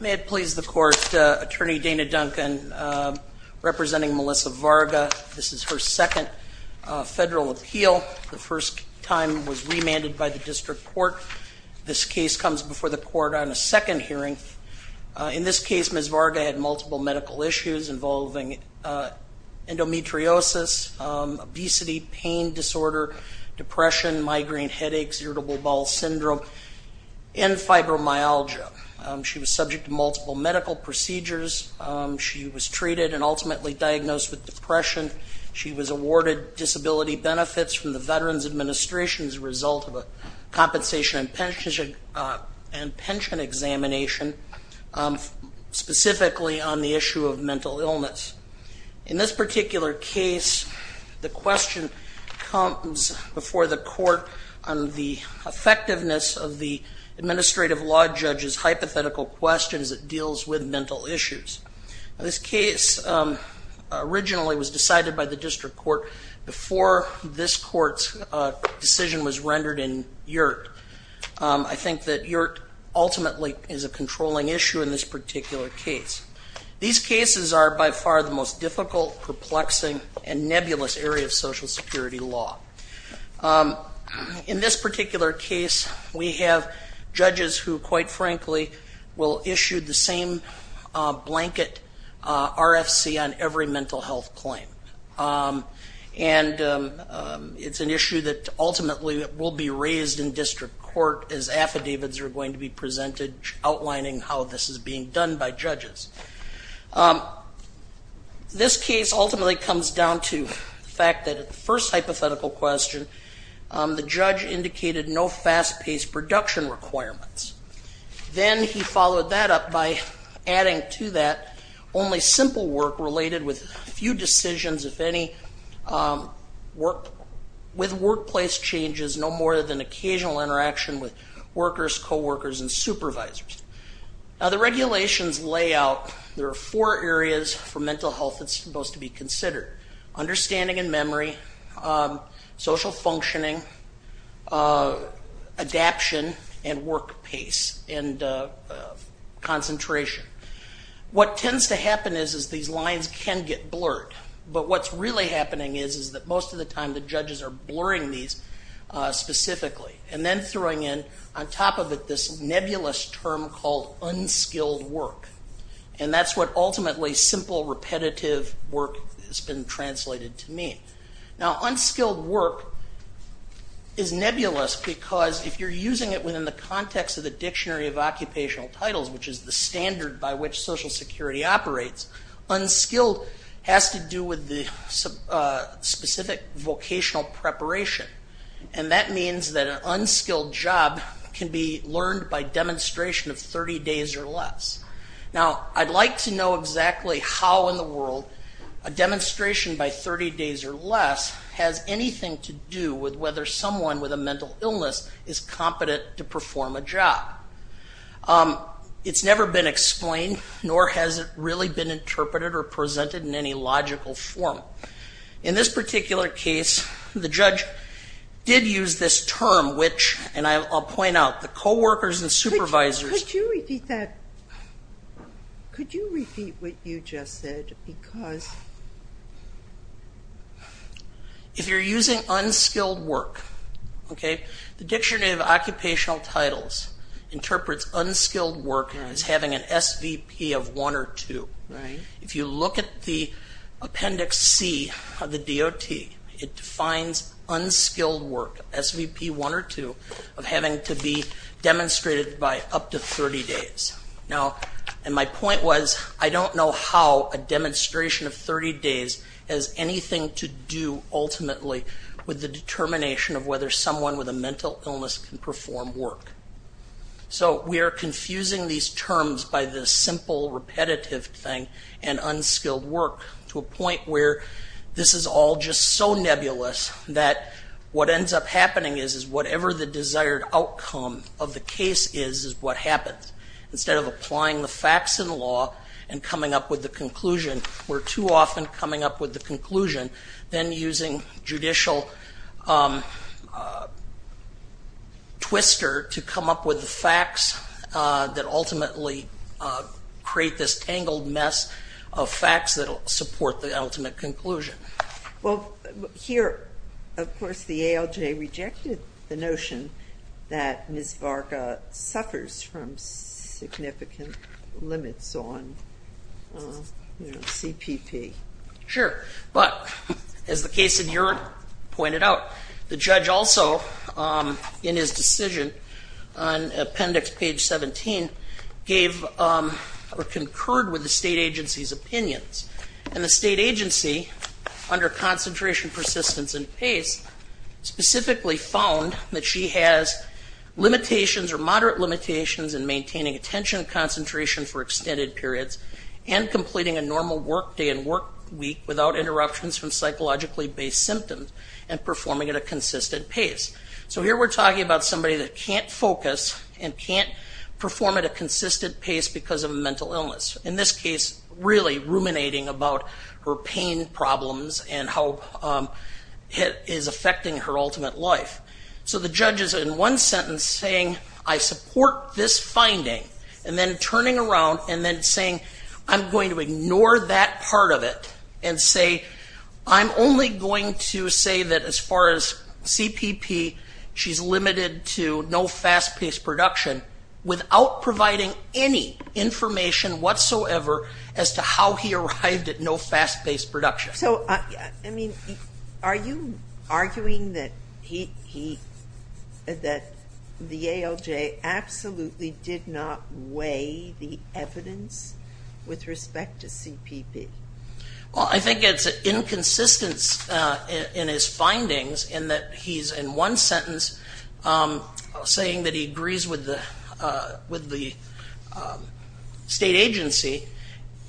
May it please the court, Attorney Dana Duncan representing Melissa Varga. This is her second federal appeal. The first time was remanded by the district court. This case comes before the court on a second hearing. In this case, Ms. Varga had multiple medical issues involving endometriosis, obesity, pain disorder, depression, migraine headaches, irritable bowel syndrome, and fibromyalgia. She was subject to multiple medical procedures. She was treated and ultimately diagnosed with depression. She was awarded disability benefits from the Veterans Administration as a result of a compensation and pension examination specifically on the issue of mental illness. In this particular case, the question comes before the court on the effectiveness of the administrative law judge's hypothetical questions that deals with mental issues. This case originally was decided by the district court before this court's decision was rendered in Yurt. I think that Yurt ultimately is a controlling issue in this particular case. These cases are by far the most difficult, perplexing, and nebulous area of Social Security law. In this particular case, we have judges who quite frankly will issue the same blanket RFC on every mental health claim. And it's an issue that ultimately will be raised in district court as affidavits are going to be presented outlining how this is being done by judges. This case ultimately comes down to the fact that at the first hypothetical question, the judge indicated no fast-paced production requirements. Then he followed that up by adding to that only simple work related with a few decisions, if any, with workplace changes, no more than occasional interaction with workers, coworkers, and supervisors. Now the regulations lay out, there are four areas for mental health that's supposed to be considered. Understanding and memory, social functioning, adaption, and work pace, and concentration. What tends to happen is these lines can get blurred, but what's really happening is that most of the time the judges are blurring these specifically, and then throwing in on top of it this nebulous term called unskilled work. And that's what ultimately simple repetitive work has been translated to mean. Now unskilled work is nebulous because if you're using it within the context of the dictionary of occupational titles, which is the standard by which Social Security operates, unskilled has to do with the specific vocational preparation. And that means that an unskilled job can be learned by demonstration of 30 days or less. Now I'd like to know exactly how in the world a demonstration by 30 days or less has anything to do with whether someone with a mental illness is competent to perform a job. It's never been explained, nor has it really been interpreted or presented in any logical form. In this particular case, the judge did use this term, which, and I'll point out, the coworkers and supervisors. Could you repeat that? Could you repeat what you just said? Because... If you're using unskilled work, the dictionary of occupational titles interprets unskilled work as having an SVP of one or two. If you look at the appendix C of the DOT, it defines unskilled work, SVP one or two, of having to be demonstrated by up to 30 days. Now, and my point was, I don't know how a demonstration of 30 days has anything to do ultimately with the determination of whether someone with a mental illness can perform work. So we are confusing these terms by this simple, repetitive thing and unskilled work to a point where this is all just so nebulous that what ends up happening is whatever the desired outcome of the case is, is what happens. Instead of applying the facts in law and coming up with the conclusion, we're too often coming up with the conclusion, then using judicial twister to come up with the facts that ultimately create this tangled mess of facts that will support the ultimate conclusion. Well, here, of course, the ALJ rejected the notion that Ms. Varga suffers from significant limits on CPP. Sure, but as the case in Europe pointed out, the judge also, in his decision on appendix page 17, gave or concurred with the state agency's opinions. And the state agency, under concentration, persistence, and pace, specifically found that she has limitations or moderate limitations in maintaining attention concentration for extended periods and completing a normal work day and work week without interruptions from psychologically based symptoms and performing at a consistent pace. So here we're talking about somebody that can't focus and can't perform at a consistent pace because of a mental illness. In this case, really ruminating about her pain problems and how it is affecting her ultimate life. So the judge is in one sentence saying, I support this finding, and then turning around and then saying, I'm going to ignore that part of it and say, I'm only going to say that as far as CPP, she's limited to no fast-paced production without providing any information whatsoever as to how he arrived at no fast-paced production. So are you arguing that the ALJ absolutely did not weigh the evidence with respect to CPP? Well, I think it's inconsistence in his findings in that he's in one sentence saying that he agrees with the state agency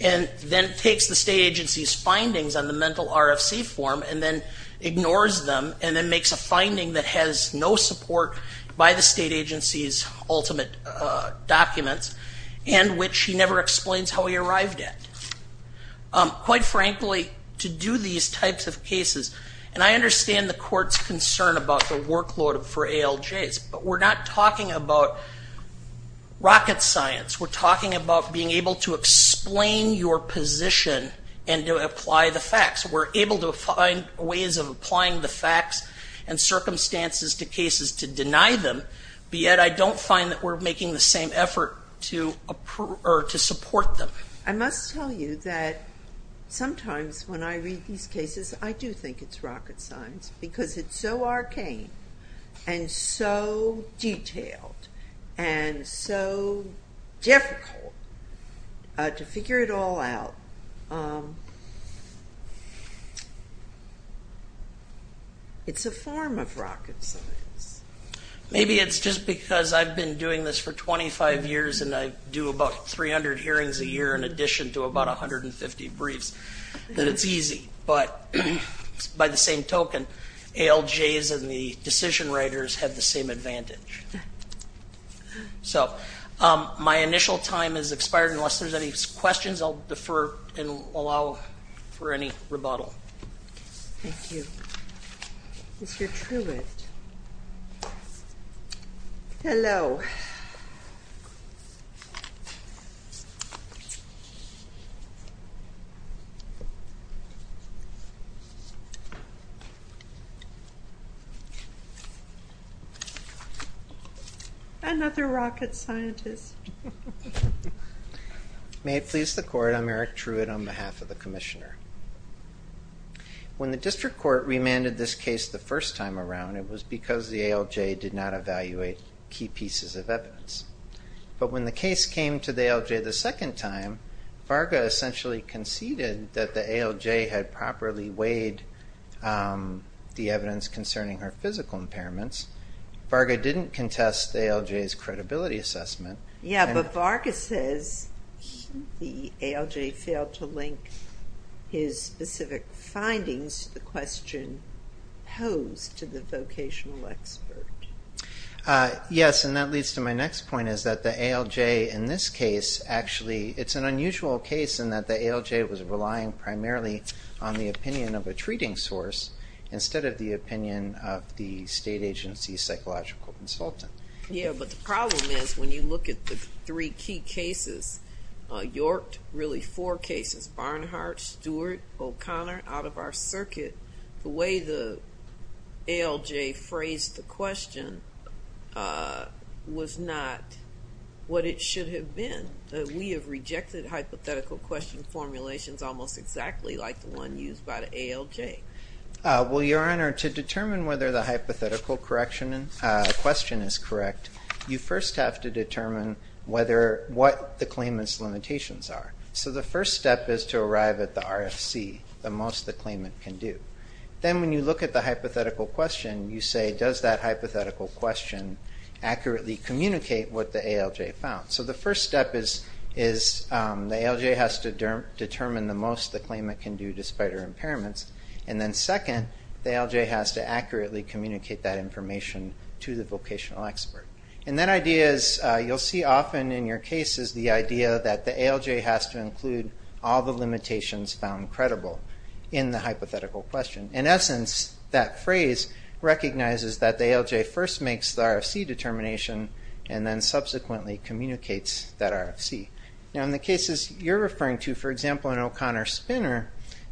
and then takes the state agency's findings on the mental RFC form and then ignores them and then makes a finding that has no support by the state agency's ultimate documents and which he never explains how he arrived at. Quite frankly, to do these types of cases, and I understand the court's concern about the workload for ALJs, but we're not talking about rocket science. We're talking about being able to explain your position and to apply the facts. We're able to find ways of applying the facts and circumstances to cases to deny them, but yet I don't find that we're making the same effort to support them. I must tell you that sometimes when I read these cases, I do think it's rocket science because it's so arcane and so detailed and so difficult to figure it all out. It's a form of rocket science. Maybe it's just because I've been doing this for 25 years and I do about 300 hearings a year in addition to about 150 briefs that it's easy, but by the same token, ALJs and the decision writers have the same advantage. So my initial time has expired. Unless there's any questions, I'll defer and allow for any rebuttal. Thank you. Mr. Truitt. Hello. Another rocket scientist. May it please the court, I'm Eric Truitt on behalf of the commissioner. When the district court remanded this case the first time around, it was because the ALJ did not evaluate key pieces of evidence. But when the case came to the ALJ the second time, Varga essentially conceded that the ALJ had properly weighed the evidence concerning her physical impairments. Varga didn't contest the ALJ's credibility assessment. Yeah, but Varga says the ALJ failed to link his specific findings to the question posed to the vocational expert. Yes, and that leads to my next point is that the ALJ in this case actually, it's an unusual case in that the ALJ was relying primarily on the opinion of a treating source instead of the opinion of the state agency psychological consultant. Yeah, but the problem is when you look at the three key cases, York, really four cases, Barnhart, Stewart, O'Connor, out of our circuit, the way the ALJ phrased the question was not what it should have been. We have rejected hypothetical question formulations almost exactly like the one used by the ALJ. Well, Your Honor, to determine whether the hypothetical question is correct, you first have to determine what the claimant's limitations are. So the first step is to arrive at the RFC, the most the claimant can do. Then when you look at the hypothetical question, you say, does that hypothetical question accurately communicate what the ALJ found? So the first step is the ALJ has to determine the most the claimant can do despite her impairments. And then second, the ALJ has to accurately communicate that information to the vocational expert. And that idea is you'll see often in your cases the idea that the ALJ has to include all the limitations found credible in the hypothetical question. In essence, that phrase recognizes that the ALJ first makes the RFC determination and then subsequently communicates that RFC. Now, in the cases you're referring to, for example, in O'Connor-Spinner,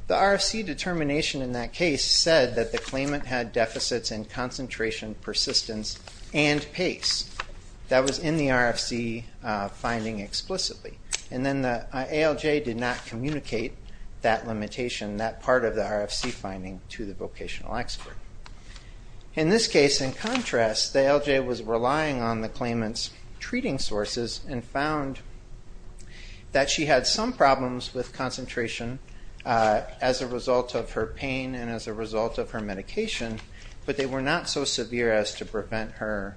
the RFC determination in that case said that the claimant had deficits in concentration, persistence, and pace. That was in the RFC finding explicitly. And then the ALJ did not communicate that limitation, that part of the RFC finding, to the vocational expert. In this case, in contrast, the ALJ was relying on the claimant's treating sources and found that she had some problems with concentration as a result of her pain and as a result of her medication, but they were not so severe as to prevent her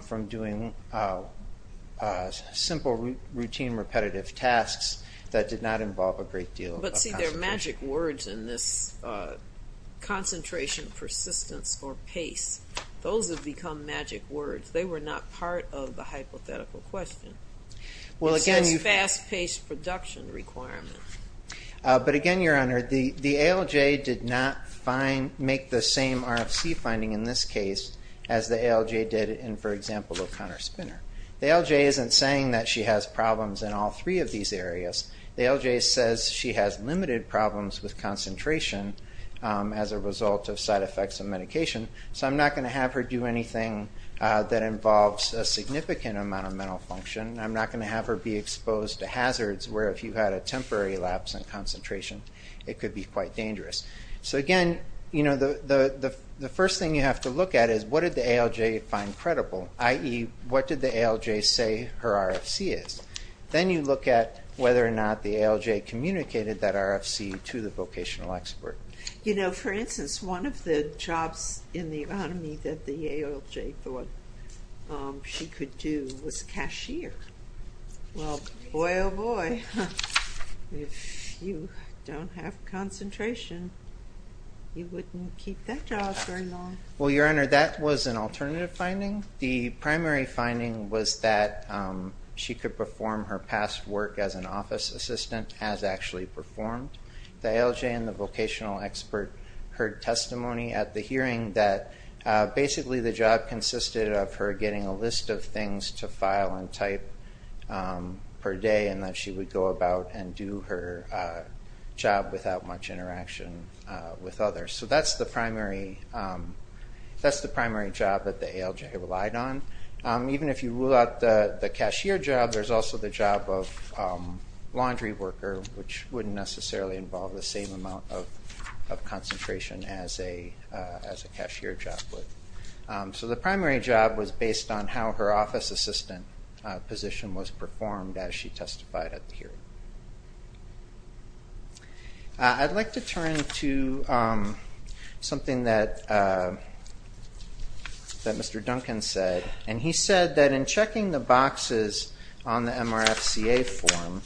from doing simple, routine, repetitive tasks that did not involve a great deal of concentration. But see, there are magic words in this concentration, persistence, or pace. Those have become magic words. They were not part of the hypothetical question. It's this fast-paced production requirement. But again, Your Honor, the ALJ did not make the same RFC finding in this case as the ALJ did in, for example, O'Connor-Spinner. The ALJ isn't saying that she has problems in all three of these areas. The ALJ says she has limited problems with concentration as a result of side effects of medication, so I'm not going to have her do anything that involves a significant amount of mental function. I'm not going to have her be exposed to hazards where if you had a temporary lapse in concentration, it could be quite dangerous. So again, the first thing you have to look at is what did the ALJ find credible, i.e., what did the ALJ say her RFC is? Then you look at whether or not the ALJ communicated that RFC to the vocational expert. You know, for instance, one of the jobs in the economy that the ALJ thought she could do was cashier. Well, boy, oh, boy, if you don't have concentration, you wouldn't keep that job very long. Well, Your Honor, that was an alternative finding. The primary finding was that she could perform her past work as an office assistant as actually performed. The ALJ and the vocational expert heard testimony at the hearing that basically the job consisted of her getting a list of things to file and type per day and that she would go about and do her job without much interaction with others. So that's the primary job that the ALJ relied on. Even if you rule out the cashier job, there's also the job of laundry worker, which wouldn't necessarily involve the same amount of concentration as a cashier job would. So the primary job was based on how her office assistant position was performed as she testified at the hearing. I'd like to turn to something that Mr. Duncan said, and he said that in checking the boxes on the MRFCA form,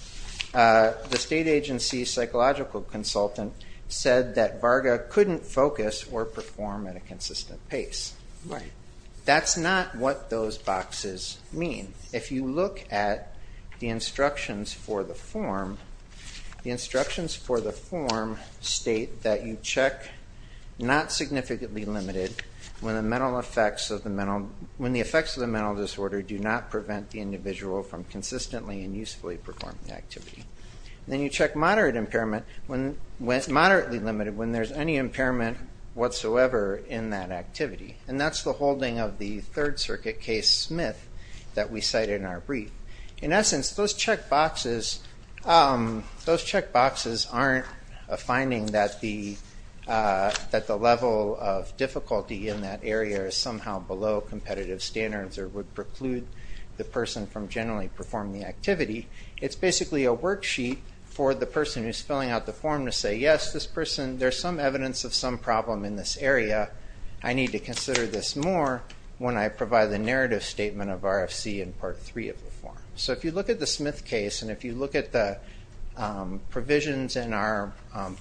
the state agency psychological consultant said that Varga couldn't focus or perform at a consistent pace. Right. That's not what those boxes mean. If you look at the instructions for the form, the instructions for the form state that you check not significantly limited when the effects of the mental disorder do not prevent the individual from consistently and usefully performing the activity. Then you check moderately limited when there's any impairment whatsoever in that activity. And that's the holding of the Third Circuit case Smith that we cite in our brief. In essence, those check boxes, those check boxes aren't a finding that the level of difficulty in that area is somehow below competitive standards or would preclude the person from generally performing the activity. It's basically a worksheet for the person who's filling out the form to say, yes, this person, there's some evidence of some problem in this area. I need to consider this more when I provide the narrative statement of RFC in Part 3 of the form. So if you look at the Smith case, and if you look at the provisions in our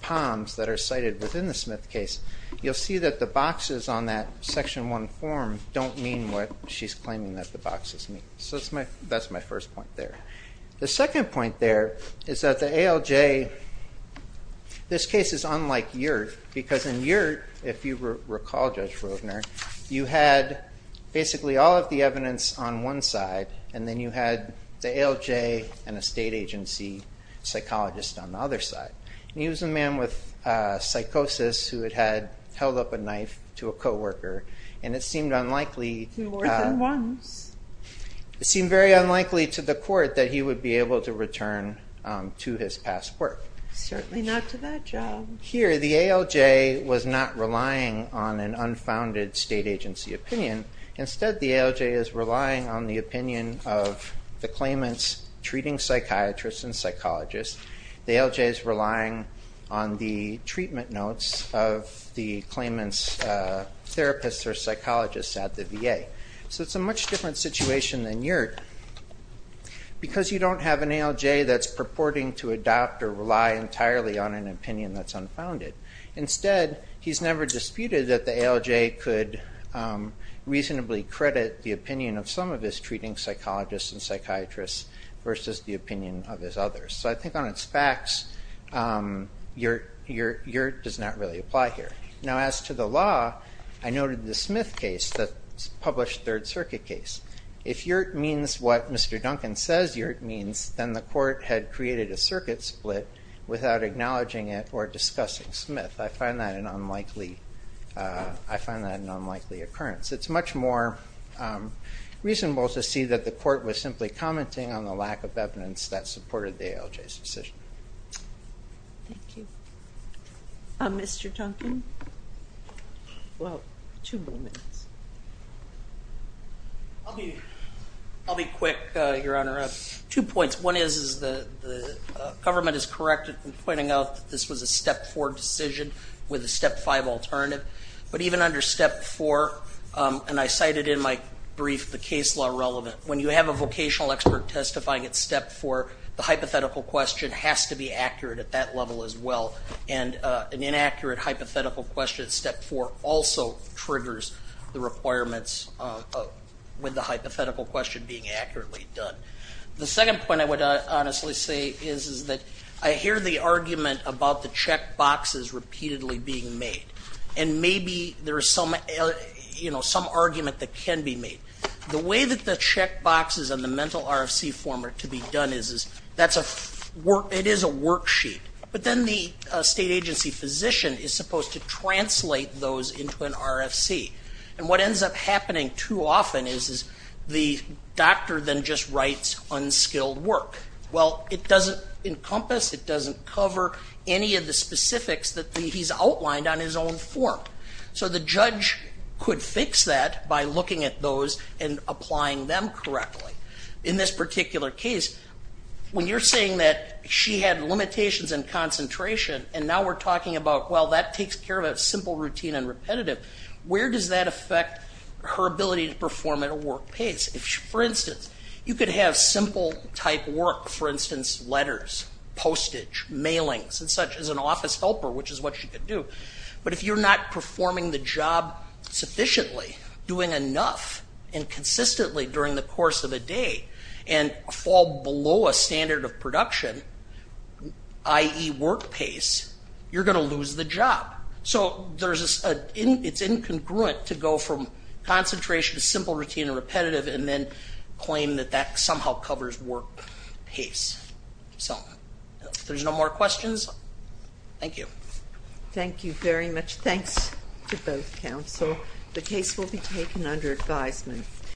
POMS that are cited within the Smith case, you'll see that the boxes on that Section 1 form don't mean what she's claiming that the boxes mean. So that's my first point there. The second point there is that the ALJ, this case is unlike Yert, because in Yert, if you recall, Judge Roedner, you had basically all of the evidence on one side, and then you had the ALJ and a state agency psychologist on the other side. And he was a man with psychosis who had held up a knife to a co-worker, and it seemed unlikely. More than once. It seemed very unlikely to the court that he would be able to return to his past work. Certainly not to that job. Here, the ALJ was not relying on an unfounded state agency opinion. Instead, the ALJ is relying on the opinion of the claimant's treating psychiatrist and psychologist. The ALJ is relying on the treatment notes of the claimant's therapist or psychologist at the VA. So it's a much different situation than Yert, because you don't have an ALJ that's purporting to adopt or rely entirely on an opinion that's unfounded. Instead, he's never disputed that the ALJ could reasonably credit the opinion of some of his treating psychologists and psychiatrists versus the opinion of his others. So I think on its facts, Yert does not really apply here. Now, as to the law, I noted the Smith case, the published Third Circuit case. If Yert means what Mr. Duncan says Yert means, then the court had created a circuit split without acknowledging it or discussing Smith. I find that an unlikely occurrence. It's much more reasonable to see that the court was simply commenting on the lack of evidence that supported the ALJ's decision. Thank you. Mr. Duncan? Well, two more minutes. I'll be quick, Your Honor. Two points. One is the government is correct in pointing out that this was a Step 4 decision with a Step 5 alternative. But even under Step 4, and I cited in my brief the case law relevant, when you have a vocational expert testifying at Step 4, the hypothetical question has to be accurate at that level as well. And an inaccurate hypothetical question at Step 4 also triggers the requirements with the hypothetical question being accurately done. The second point I would honestly say is that I hear the argument about the check boxes repeatedly being made. And maybe there is some argument that can be made. The way that the check boxes on the mental RFC form are to be done is that it is a worksheet. But then the state agency physician is supposed to translate those into an RFC. And what ends up happening too often is the doctor then just writes unskilled work. Well, it doesn't encompass, it doesn't cover any of the specifics that he's outlined on his own form. So the judge could fix that by looking at those and applying them correctly. In this particular case, when you're saying that she had limitations in concentration, and now we're talking about, well, that takes care of a simple routine and repetitive, where does that affect her ability to perform at a work pace? For instance, you could have simple type work, for instance, letters, postage, mailings, and such as an office helper, which is what she could do. But if you're not performing the job sufficiently, doing enough, and consistently during the course of a day, and fall below a standard of production, i.e. work pace, you're going to lose the job. So it's incongruent to go from concentration to simple routine and repetitive and then claim that that somehow covers work pace. So if there's no more questions, thank you. Thank you very much. Thanks to both counsel. The case will be taken under advisement.